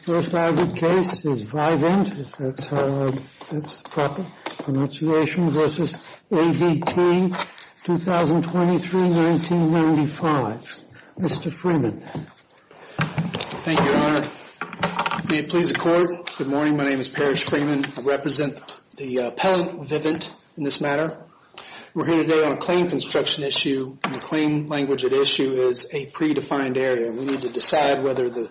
First argued case is Vivint, if that's the proper pronunciation, v. ADT, 2023-1995. Mr. Freeman. Thank you, Your Honor. May it please the Court, good morning, my name is Parrish Freeman. I represent the appellant, Vivint, in this matter. We're here today on a claim construction issue. The claim language at issue is a predefined area. We need to decide whether the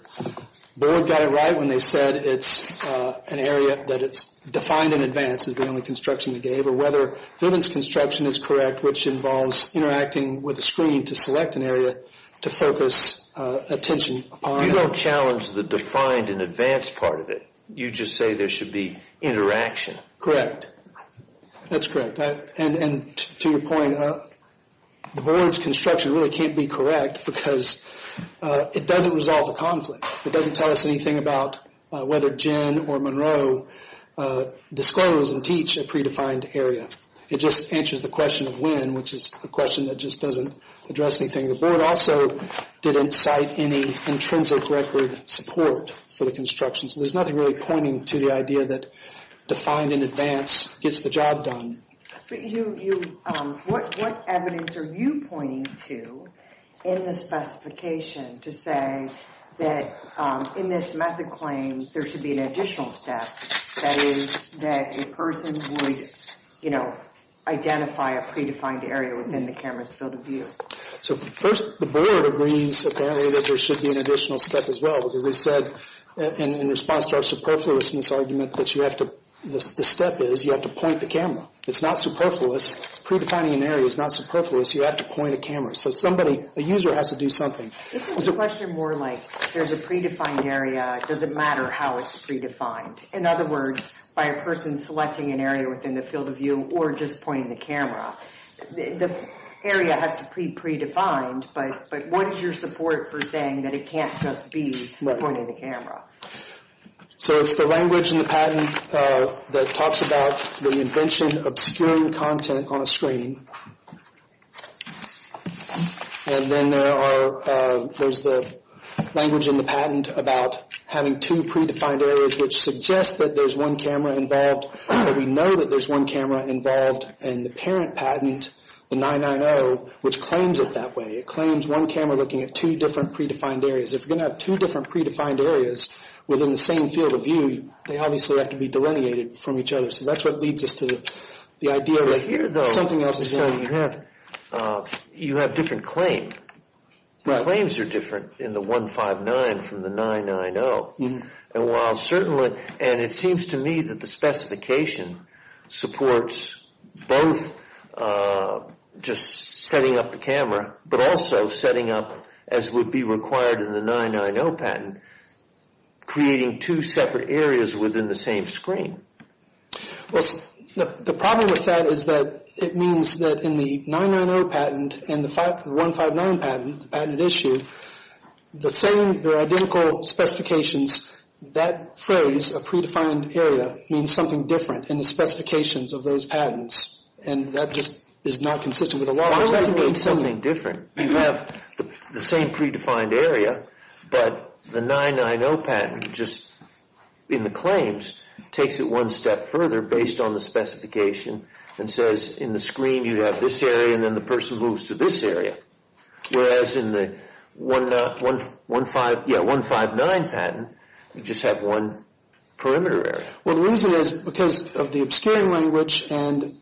board got it right when they said it's an area that it's defined in advance, is the only construction they gave, or whether Vivint's construction is correct, which involves interacting with a screen to select an area to focus attention upon. You don't challenge the defined in advance part of it. You just say there should be interaction. Correct, that's correct. And to your point, the board's construction really can't be correct because it doesn't resolve the conflict. It doesn't tell us anything about whether Jen or Monroe disclose and teach a predefined area. It just answers the question of when, which is a question that just doesn't address anything. The board also didn't cite any intrinsic record support for the construction, so there's nothing really pointing to the idea that defined in advance gets the job done. What evidence are you pointing to in the specification to say that in this method claim, there should be an additional step, that is, that a person would, you know, identify a predefined area within the camera's field of view? So first, the board agrees, apparently, that there should be an additional step as well, because they said in response to our superfluousness argument that you have to, the step is you have to point the camera. It's not superfluous. Predefining an area is not superfluous. You have to point a camera. So somebody, a user has to do something. This is a question more like there's a predefined area. Does it matter how it's predefined? In other words, by a person selecting an area within the field of view or just pointing the camera, the area has to be predefined, but what is your support for saying that it can't just be pointing the camera? So it's the language in the patent that talks about the invention of obscuring content on a screen. And then there are, there's the language in the patent about having two predefined areas, which suggests that there's one camera involved, but we know that there's one camera involved in the parent patent, the 990, which claims it that way. It claims one camera looking at two different predefined areas. If you're going to have two different predefined areas within the same field of view, they obviously have to be delineated from each other. So that's what leads us to the idea that something else is going on. You have different claim. The claims are different in the 159 from the 990. And while certainly, and it seems to me that the specification supports both just setting up the camera, but also setting up, as would be required in the 990 patent, creating two separate areas within the same screen. Well, the problem with that is that it means that in the 990 patent and the 159 patent, the same, they're identical specifications. That phrase, a predefined area, means something different in the specifications of those patents. And that just is not consistent with the law. Why would that mean something different? You have the same predefined area, but the 990 patent just, in the claims, takes it one step further based on the specification and says, in the screen you have this area and then the person moves to this area. Whereas in the 159 patent, you just have one perimeter area. Well, the reason is because of the obscuring language and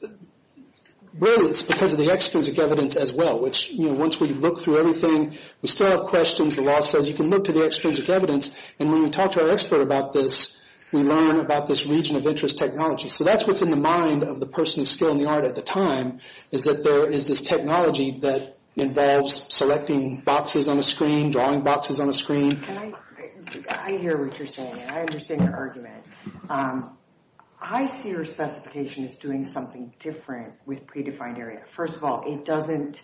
really it's because of the extrinsic evidence as well, which once we look through everything, we still have questions. The law says you can look to the extrinsic evidence. And when we talk to our expert about this, we learn about this region of interest technology. So that's what's in the mind of the person of skill and the art at the time, is that there is this technology that involves selecting boxes on a screen, drawing boxes on a screen. I hear what you're saying and I understand your argument. I see your specification as doing something different with predefined area. First of all, it doesn't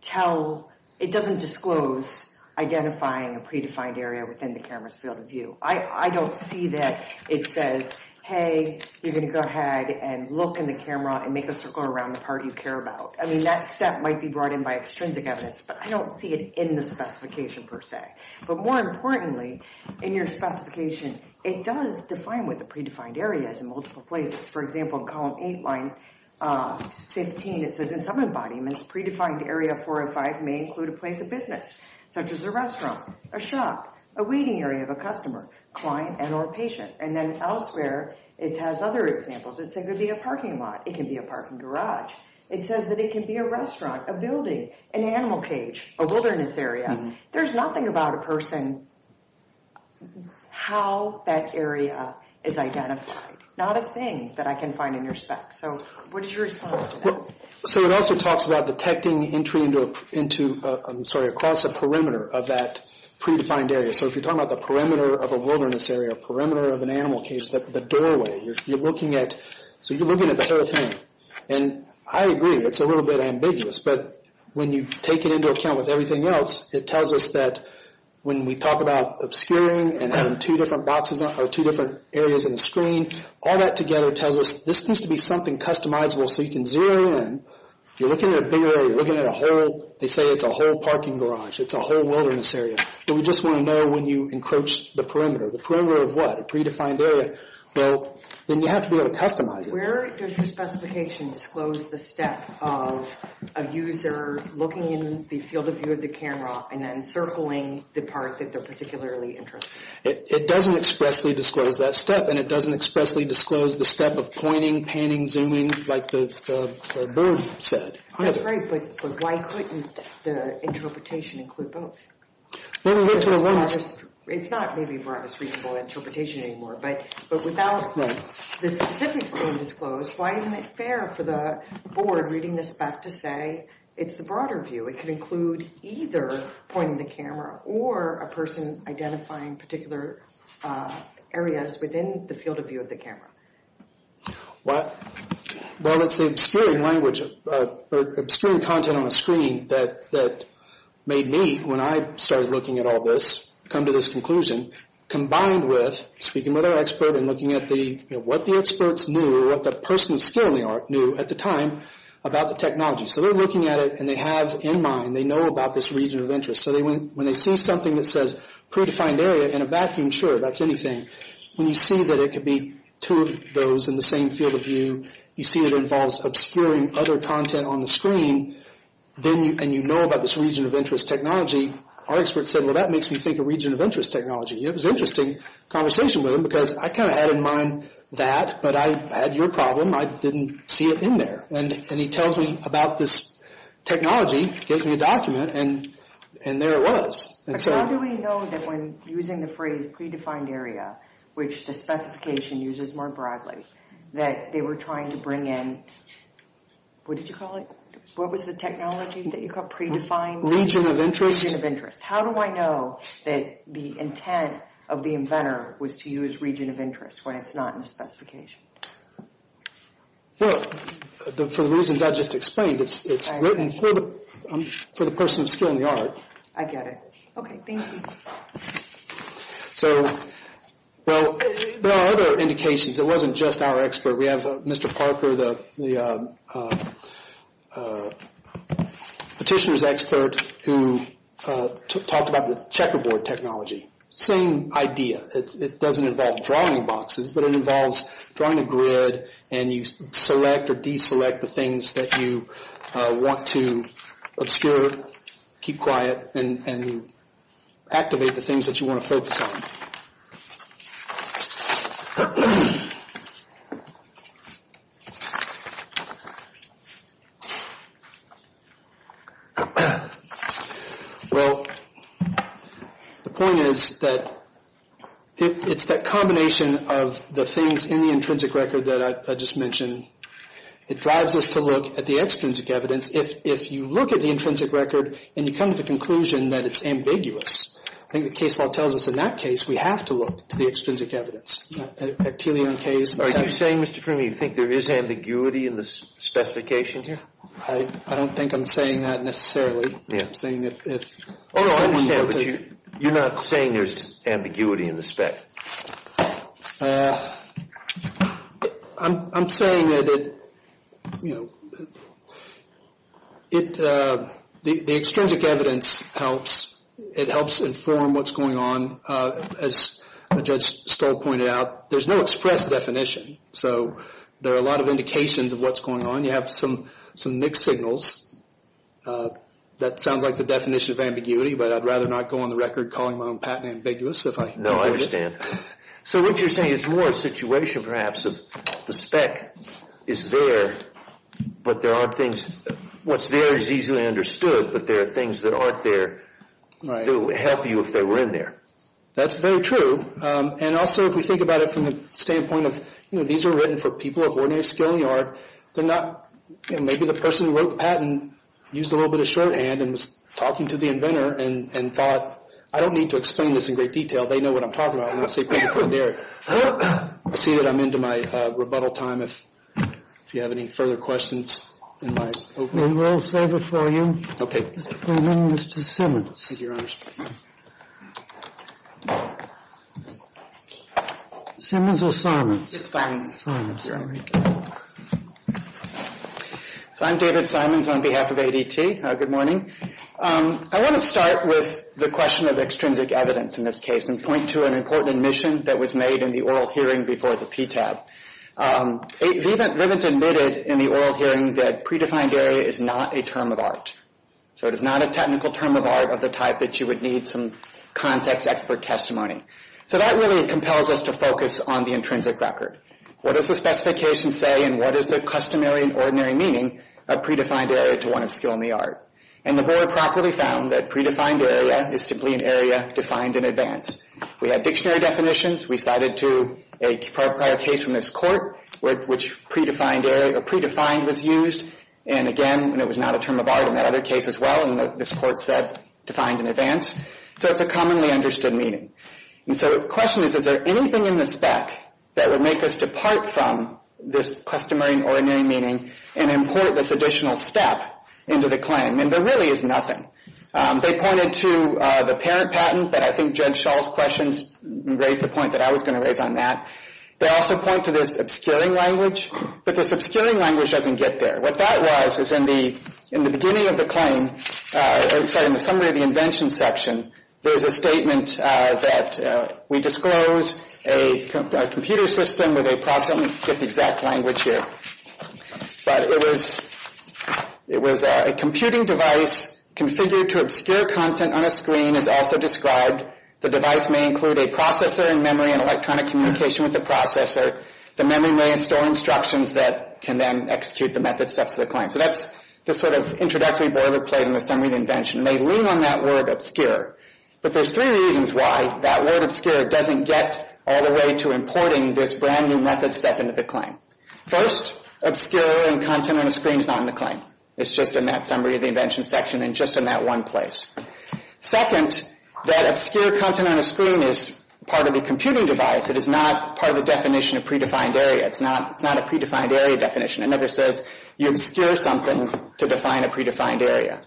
tell, it doesn't disclose identifying a predefined area within the camera's field of view. I don't see that it says, hey, you're going to go ahead and look in the camera and make a circle around the part you care about. I mean, that step might be brought in by extrinsic evidence, but I don't see it in the specification per se. But more importantly, in your specification, it does define what the predefined area is in multiple places. For example, in column 8, line 15, it says in some embodiments, predefined area 405 may include a place of business, such as a restaurant, a shop, a waiting area of a customer, client, and or patient. And then elsewhere, it has other examples. It could be a parking lot. It could be a parking garage. It says that it could be a restaurant, a building, an animal cage, a wilderness area. There's nothing about a person how that area is identified, not a thing that I can find in your spec. So what is your response to that? So it also talks about detecting entry into, I'm sorry, across a perimeter of that predefined area. So if you're talking about the perimeter of a wilderness area, a perimeter of an animal cage, the doorway, you're looking at the whole thing. And I agree, it's a little bit ambiguous. But when you take it into account with everything else, it tells us that when we talk about obscuring and having two different areas in the screen, all that together tells us this needs to be something customizable so you can zero in. You're looking at a bigger area. You're looking at a whole, they say it's a whole parking garage. It's a whole wilderness area. And we just want to know when you encroach the perimeter. The perimeter of what? A predefined area. Well, then you have to be able to customize it. Where does your specification disclose the step of a user looking in the field of view of the camera and then circling the part that they're particularly interested in? It doesn't expressly disclose that step. And it doesn't expressly disclose the step of pointing, panning, zooming, like the bird said. That's right, but why couldn't the interpretation include both? It's not maybe a broadest reasonable interpretation anymore. But without the specifics being disclosed, why isn't it fair for the board reading this back to say it's the broader view? It could include either pointing the camera or a person identifying particular areas within the field of view of the camera. Well, it's the obscuring language, obscuring content on a screen that made me, when I started looking at all this, come to this conclusion, combined with speaking with our expert and looking at what the experts knew or what the person of skill knew at the time about the technology. So they're looking at it, and they have in mind, they know about this region of interest. So when they see something that says predefined area in a vacuum, sure, that's anything. When you see that it could be two of those in the same field of view, you see it involves obscuring other content on the screen, and you know about this region of interest technology, our expert said, well, that makes me think of region of interest technology. It was an interesting conversation with him because I kind of had in mind that, but I had your problem. I didn't see it in there. And he tells me about this technology, gives me a document, and there it was. But how do we know that when using the phrase predefined area, which the specification uses more broadly, that they were trying to bring in, what did you call it? What was the technology that you called predefined? Region of interest. How do I know that the intent of the inventor was to use region of interest when it's not in the specification? Well, for the reasons I just explained, it's written for the person of skill in the art. I get it. Okay, thank you. So, well, there are other indications. It wasn't just our expert. We have Mr. Parker, the petitioner's expert, who talked about the checkerboard technology. Same idea. It doesn't involve drawing boxes, but it involves drawing a grid, and you select or deselect the things that you want to obscure, keep quiet, and activate the things that you want to focus on. Well, the point is that it's that combination of the things in the intrinsic record that I just mentioned. It drives us to look at the extrinsic evidence. If you look at the intrinsic record and you come to the conclusion that it's ambiguous, I think the case law tells us in that case we have to look to the extrinsic evidence. At Tilly and Kay's case. Are you saying, Mr. Parker, you think there is ambiguity in the specification here? I don't think I'm saying that necessarily. I'm saying if someone were to... I understand, but you're not saying there's ambiguity in the spec. I'm saying that the extrinsic evidence helps. It helps inform what's going on. As Judge Stoll pointed out, there's no express definition. So there are a lot of indications of what's going on. You have some mixed signals. That sounds like the definition of ambiguity, but I'd rather not go on the record calling my own patent ambiguous. No, I understand. So what you're saying is more a situation, perhaps, of the spec is there, but there aren't things... What's there is easily understood, but there are things that aren't there to help you if they were in there. That's very true. And also, if we think about it from the standpoint of, you know, these were written for people of ordinary skill and yard. They're not... Maybe the person who wrote the patent used a little bit of shorthand and was talking to the inventor and thought, I don't need to explain this in great detail. They know what I'm talking about. I'm not saying people couldn't hear it. I see that I'm into my rebuttal time. If you have any further questions in my opening... Then we'll save it for you. Okay. Mr. Simmons. Thank you, Your Honor. Simmons or Simons? Simons. Simons. So I'm David Simons on behalf of ADT. Good morning. I want to start with the question of extrinsic evidence in this case and point to an important admission that was made in the oral hearing before the PTAB. Rivint admitted in the oral hearing that predefined area is not a term of art. So it is not a technical term of art of the type that you would need some context expert testimony. So that really compels us to focus on the intrinsic record. What does the specification say and what is the customary and ordinary meaning of predefined area to one of skill and the art? And the board properly found that predefined area is simply an area defined in advance. We had dictionary definitions. We cited to a prior case from this court with which predefined area or predefined was used. And again, it was not a term of art in that other case as well. And this court said defined in advance. So it's a commonly understood meaning. And so the question is, is there anything in the spec that would make us depart from this customary and ordinary meaning and import this additional step into the claim? And there really is nothing. They pointed to the parent patent, but I think Judge Schall's questions raised the point that I was going to raise on that. They also point to this obscuring language, but this obscuring language doesn't get there. What that was is in the beginning of the claim, sorry, in the summary of the invention section, there's a statement that we disclose a computer system with a process. Let me get the exact language here. But it was a computing device configured to obscure content on a screen as also described. The device may include a processor and memory and electronic communication with the processor. The memory may install instructions that can then execute the method steps of the claim. So that's the sort of introductory boilerplate in the summary of the invention. And they lean on that word obscure. But there's three reasons why that word obscure doesn't get all the way to importing this brand-new method step into the claim. First, obscure content on a screen is not in the claim. It's just in that summary of the invention section and just in that one place. Second, that obscure content on a screen is part of the computing device. It is not part of the definition of predefined area. It's not a predefined area definition. It never says you obscure something to define a predefined area.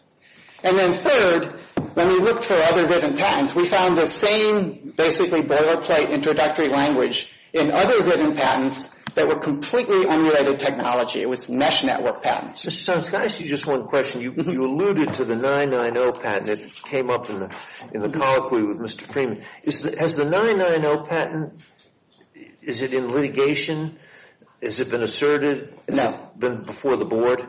And then third, when we looked for other driven patents, we found the same basically boilerplate introductory language in other driven patents that were completely emulated technology. It was mesh network patents. Mr. Sonskis, can I ask you just one question? You alluded to the 990 patent. It came up in the colloquy with Mr. Freeman. Has the 990 patent, is it in litigation? Has it been asserted? Has it been before the board?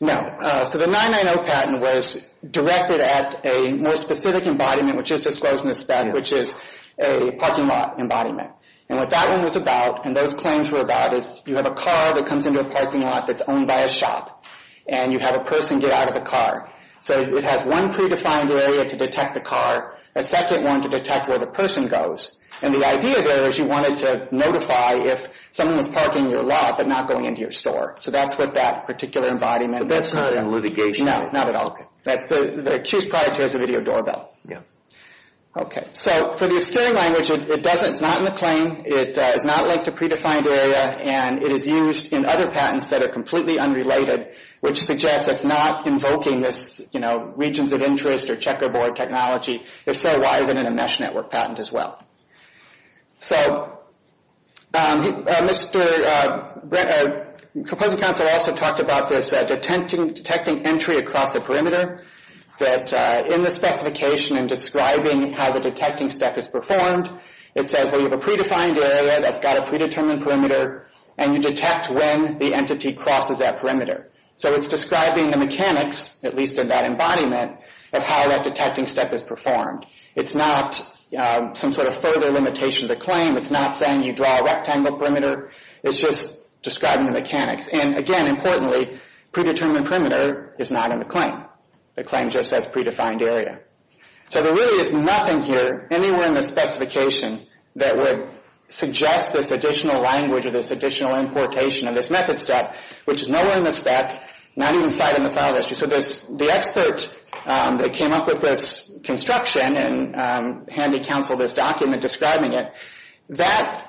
No. So the 990 patent was directed at a more specific embodiment, which is disclosed in the spec, which is a parking lot embodiment. And what that one was about and those claims were about is you have a car that comes into a parking lot that's owned by a shop. And you have a person get out of the car. So it has one predefined area to detect the car, a second one to detect where the person goes. And the idea there is you wanted to notify if someone was parking your lot but not going into your store. So that's what that particular embodiment was. But that's not in litigation. No, not at all. The accused product has a video doorbell. Yeah. Okay. So for the obscuring language, it's not in the claim. It is not linked to predefined area. And it is used in other patents that are completely unrelated, which suggests it's not invoking this, you know, regions of interest or checkerboard technology. If so, why is it in a mesh network patent as well? So Mr. Composite Counsel also talked about this detecting entry across the perimeter. That in the specification in describing how the detecting step is performed, it says, well, you have a predefined area that's got a predetermined perimeter. And you detect when the entity crosses that perimeter. So it's describing the mechanics, at least in that embodiment, of how that detecting step is performed. It's not some sort of further limitation of the claim. It's not saying you draw a rectangle perimeter. It's just describing the mechanics. And, again, importantly, predetermined perimeter is not in the claim. The claim just says predefined area. So there really is nothing here, anywhere in the specification, that would suggest this additional language or this additional importation of this method step, which is nowhere in the spec, not even cited in the file registry. So the expert that came up with this construction and handy-counseled this document describing it, that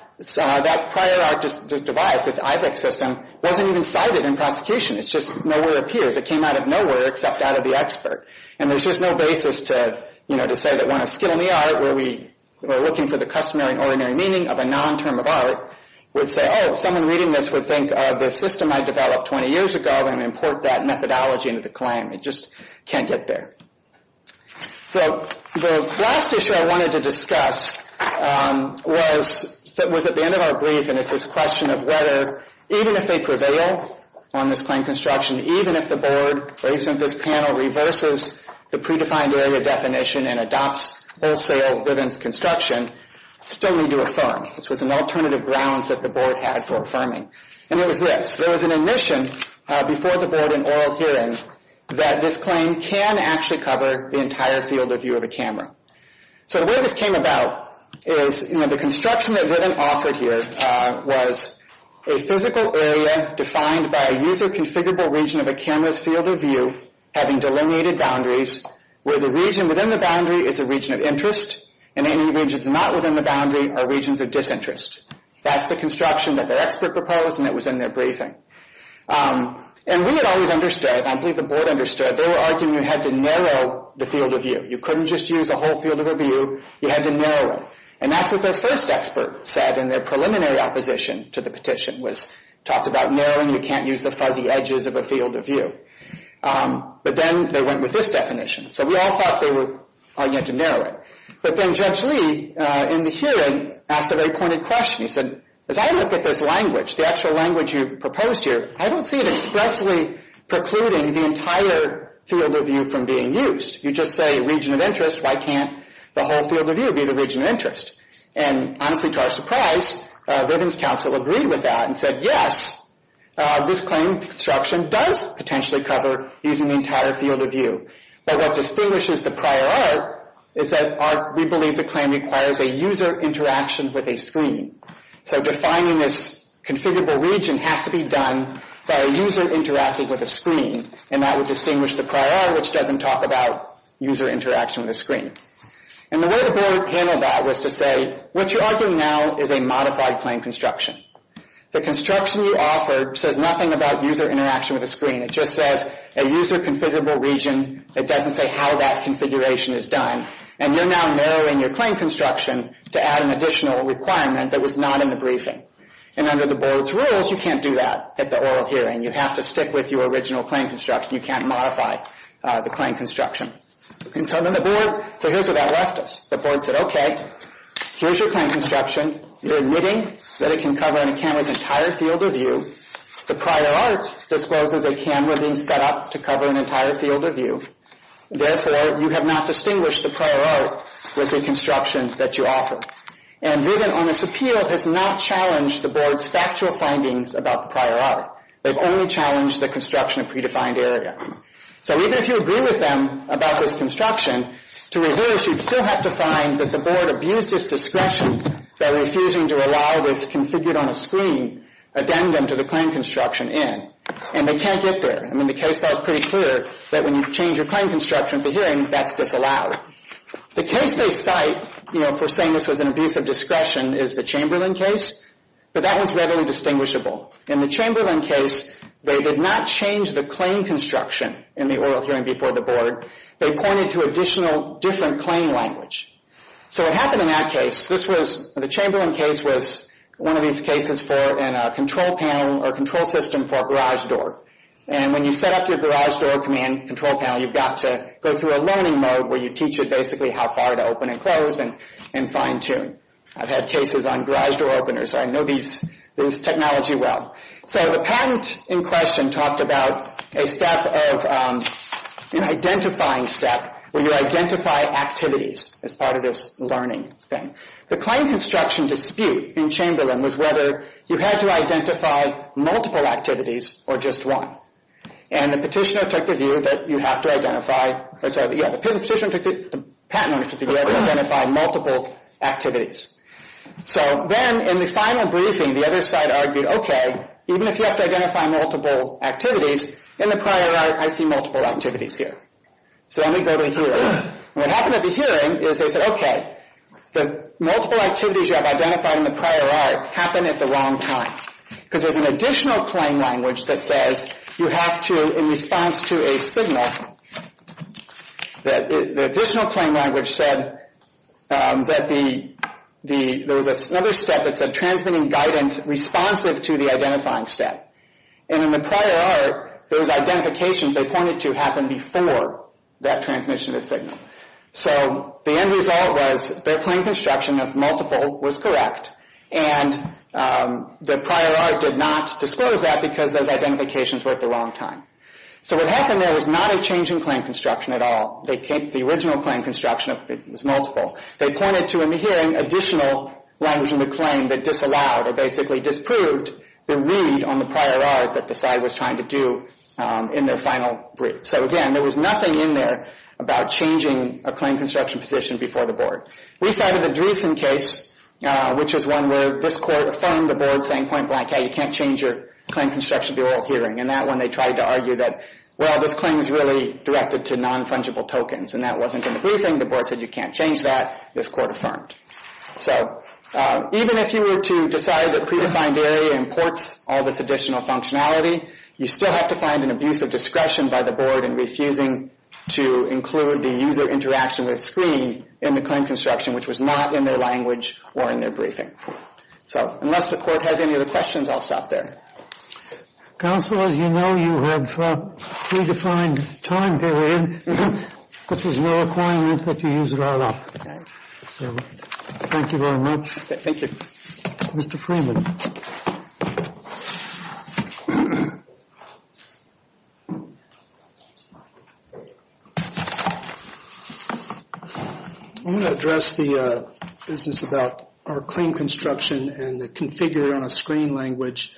prior art device, this IVEX system, wasn't even cited in prosecution. It's just nowhere appears. It came out of nowhere except out of the expert. And there's just no basis to say that when a skill in the art, where we are looking for the customary and ordinary meaning of a non-term of art, would say, oh, someone reading this would think of the system I developed 20 years ago and import that methodology into the claim. It just can't get there. So the last issue I wanted to discuss was at the end of our brief. And it's this question of whether, even if they prevail on this claim construction, even if the board, or even if this panel, reverses the predefined area definition and adopts wholesale livens construction, still need to affirm. This was an alternative grounds that the board had for affirming. And it was this. There was an admission before the board in oral hearing that this claim can actually cover the entire field of view of a camera. So the way this came about is, you know, the construction that Riven offered here was a physical area defined by a user-configurable region of a camera's field of view having delineated boundaries where the region within the boundary is a region of interest and any regions not within the boundary are regions of disinterest. That's the construction that the expert proposed, and it was in their briefing. And we had always understood, I believe the board understood, they were arguing you had to narrow the field of view. You couldn't just use a whole field of view. You had to narrow it. And that's what their first expert said in their preliminary opposition to the petition was, talked about narrowing, you can't use the fuzzy edges of a field of view. But then they went with this definition. So we all thought they were arguing to narrow it. But then Judge Lee, in the hearing, asked a very pointed question. He said, as I look at this language, the actual language you proposed here, I don't see it expressly precluding the entire field of view from being used. You just say region of interest, why can't the whole field of view be the region of interest? And honestly, to our surprise, Riven's counsel agreed with that and said, yes, this claim construction does potentially cover using the entire field of view. But what distinguishes the prior art is that we believe the claim requires a user interaction with a screen. So defining this configurable region has to be done by a user interacting with a screen. And that would distinguish the prior art, which doesn't talk about user interaction with a screen. And the way the board handled that was to say, what you're arguing now is a modified claim construction. The construction you offered says nothing about user interaction with a screen. It just says a user configurable region. It doesn't say how that configuration is done. And you're now narrowing your claim construction to add an additional requirement that was not in the briefing. And under the board's rules, you can't do that at the oral hearing. You have to stick with your original claim construction. You can't modify the claim construction. And so then the board, so here's what that left us. The board said, okay, here's your claim construction. You're admitting that it can cover and it can with the entire field of view. The prior art discloses a camera being set up to cover an entire field of view. Therefore, you have not distinguished the prior art with the construction that you offer. And Vivint on this appeal has not challenged the board's factual findings about the prior art. They've only challenged the construction of predefined area. So even if you agree with them about this construction, to reverse, you'd still have to find that the board abused its discretion by refusing to allow this configured on a screen addendum to the claim construction in. And they can't get there. I mean, the case law is pretty clear that when you change your claim construction at the hearing, that's disallowed. The case they cite, you know, for saying this was an abuse of discretion is the Chamberlain case. But that was readily distinguishable. In the Chamberlain case, they did not change the claim construction in the oral hearing before the board. They pointed to additional different claim language. So what happened in that case, this was, the Chamberlain case was one of these cases for in a control panel or control system for a garage door. And when you set up your garage door command control panel, you've got to go through a learning mode where you teach it basically how far to open and close and fine tune. I've had cases on garage door openers. I know these technology well. So the patent in question talked about a step of an identifying step where you identify activities. It's part of this learning thing. The claim construction dispute in Chamberlain was whether you had to identify multiple activities or just one. And the petitioner took the view that you have to identify, or sorry, yeah, the petitioner took the patent to identify multiple activities. So then in the final briefing, the other side argued, okay, even if you have to identify multiple activities, in the prior right, I see multiple activities here. So let me go to here. What happened at the hearing is they said, okay, the multiple activities you have identified in the prior right happen at the wrong time. Because there's an additional claim language that says you have to, in response to a signal, the additional claim language said that there was another step that said transmitting guidance responsive to the identifying step. And in the prior art, those identifications they pointed to happened before that transmission of the signal. So the end result was their claim construction of multiple was correct. And the prior art did not disclose that because those identifications were at the wrong time. So what happened there was not a change in claim construction at all. The original claim construction was multiple. They pointed to, in the hearing, additional language in the claim that disallowed or basically disproved the read on the prior art that the side was trying to do in their final brief. So, again, there was nothing in there about changing a claim construction position before the board. We cited the Dreesen case, which is one where this court affirmed the board saying point blank, hey, you can't change your claim construction at the oral hearing. And that one they tried to argue that, well, this claim is really directed to non-fungible tokens. And that wasn't in the briefing. The board said you can't change that. This court affirmed. So even if you were to decide that predefined area imports all this additional functionality, you still have to find an abuse of discretion by the board in refusing to include the user interaction with screen in the claim construction, which was not in their language or in their briefing. So unless the court has any other questions, I'll stop there. Council, as you know, you have predefined time period. This is no requirement that you use it all up. So, thank you very much. Thank you. Mr. Freeman. I'm going to address the business about our claim construction and the configure on a screen language.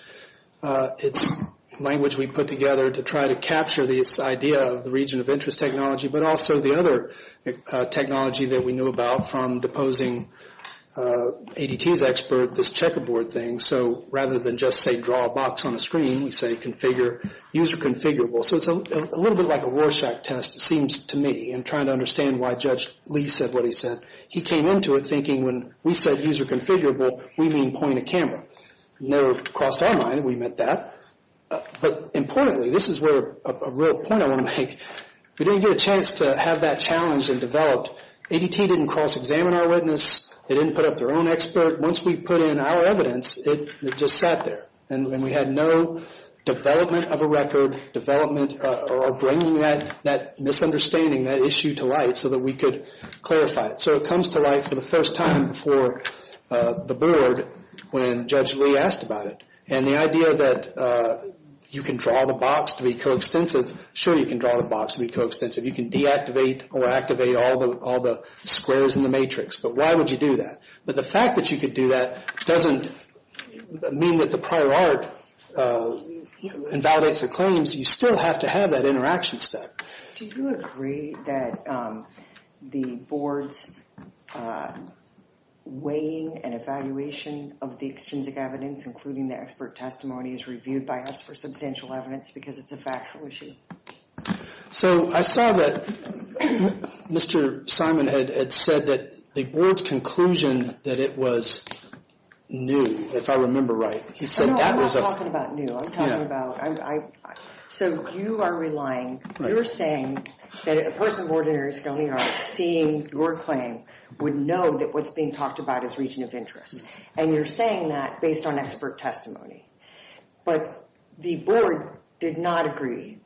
It's language we put together to try to capture this idea of the region of interest technology, but also the other technology that we knew about from deposing ADT's expert, this checkerboard thing. So rather than just say draw a box on a screen, we say configure, user configurable. So it's a little bit like a Rorschach test, it seems to me, in trying to understand why Judge Lee said what he said. He came into it thinking when we said user configurable, we mean point of camera. It never crossed our mind that we meant that. But importantly, this is where a real point I want to make. We didn't get a chance to have that challenge and developed. ADT didn't cross-examine our witness. They didn't put up their own expert. Once we put in our evidence, it just sat there. And we had no development of a record, development or bringing that misunderstanding, that issue to light so that we could clarify it. So it comes to light for the first time before the board when Judge Lee asked about it. And the idea that you can draw the box to be co-extensive, sure you can draw the box to be co-extensive. You can deactivate or activate all the squares in the matrix. But why would you do that? But the fact that you could do that doesn't mean that the prior art invalidates the claims. You still have to have that interaction step. Do you agree that the board's weighing and evaluation of the extrinsic evidence, including the expert testimony, is reviewed by us for substantial evidence because it's a factual issue? So I saw that Mr. Simon had said that the board's conclusion that it was new, if I remember right. He said that was a... No, I'm not talking about new. I'm talking about... So you are relying, you're saying that a person of ordinary skill in the art seeing your claim would know that what's being talked about is region of interest. And you're saying that based on expert testimony. But the board did not agree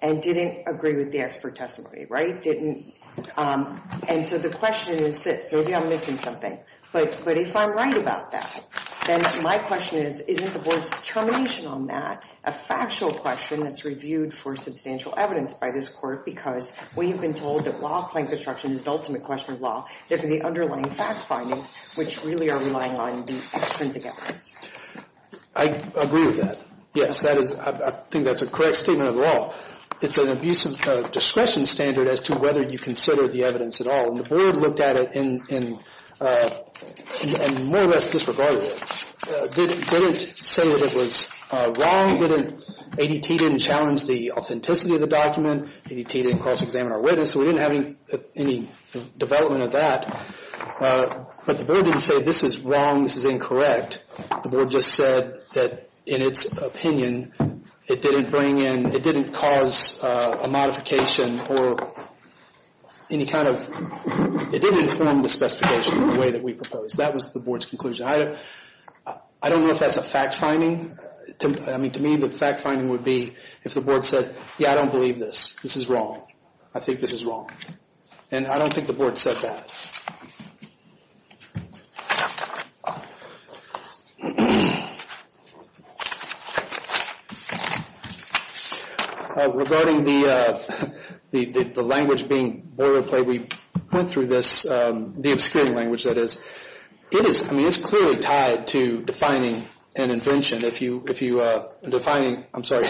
and didn't agree with the expert testimony, right? Didn't... And so the question is this. Maybe I'm missing something. But if I'm right about that, then my question is, isn't the board's determination on that a factual question that's reviewed for substantial evidence by this court because we have been told that while claim construction is the ultimate question of law, there could be underlying fact findings which really are relying on the extrinsic evidence. I agree with that. Yes, I think that's a correct statement of the law. It's an abuse of discretion standard as to whether you consider the evidence at all. And the board looked at it and more or less disregarded it. Didn't say that it was wrong. ADT didn't challenge the authenticity of the document. ADT didn't cross-examine our witness. We didn't have any development of that. But the board didn't say this is wrong, this is incorrect. The board just said that in its opinion, it didn't bring in, it didn't cause a modification or any kind of... It didn't inform the specification in the way that we proposed. That was the board's conclusion. I don't know if that's a fact finding. I mean, to me, the fact finding would be if the board said, yeah, I don't believe this. This is wrong. I think this is wrong. And I don't think the board said that. Regarding the language being boilerplate, we went through this, the obscuring language, that is. It is, I mean, it's clearly tied to defining an invention. Defining, I'm sorry,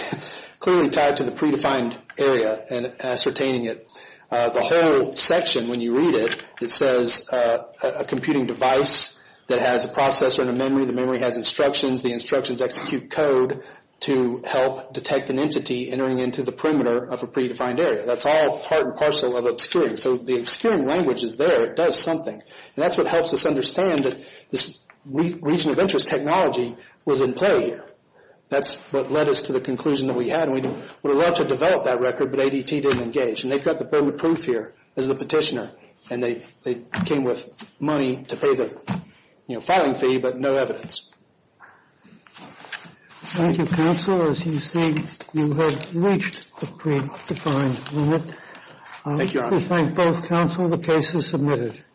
clearly tied to the predefined area and ascertaining it. The whole section, when you read it, it says a computing device that has a processor and a memory. The memory has instructions. The instructions execute code to help detect an entity entering into the perimeter of a predefined area. That's all part and parcel of obscuring. So the obscuring language is there. It does something. And that's what helps us understand that this region of interest technology was in play here. That's what led us to the conclusion that we had. And we would have loved to have developed that record, but ADT didn't engage. And they've got the permit proof here as the petitioner. And they came with money to pay the filing fee, but no evidence. Thank you, counsel. As you see, you have reached the predefined limit. Thank you, Your Honor. I'd like to thank both counsel. The case is submitted.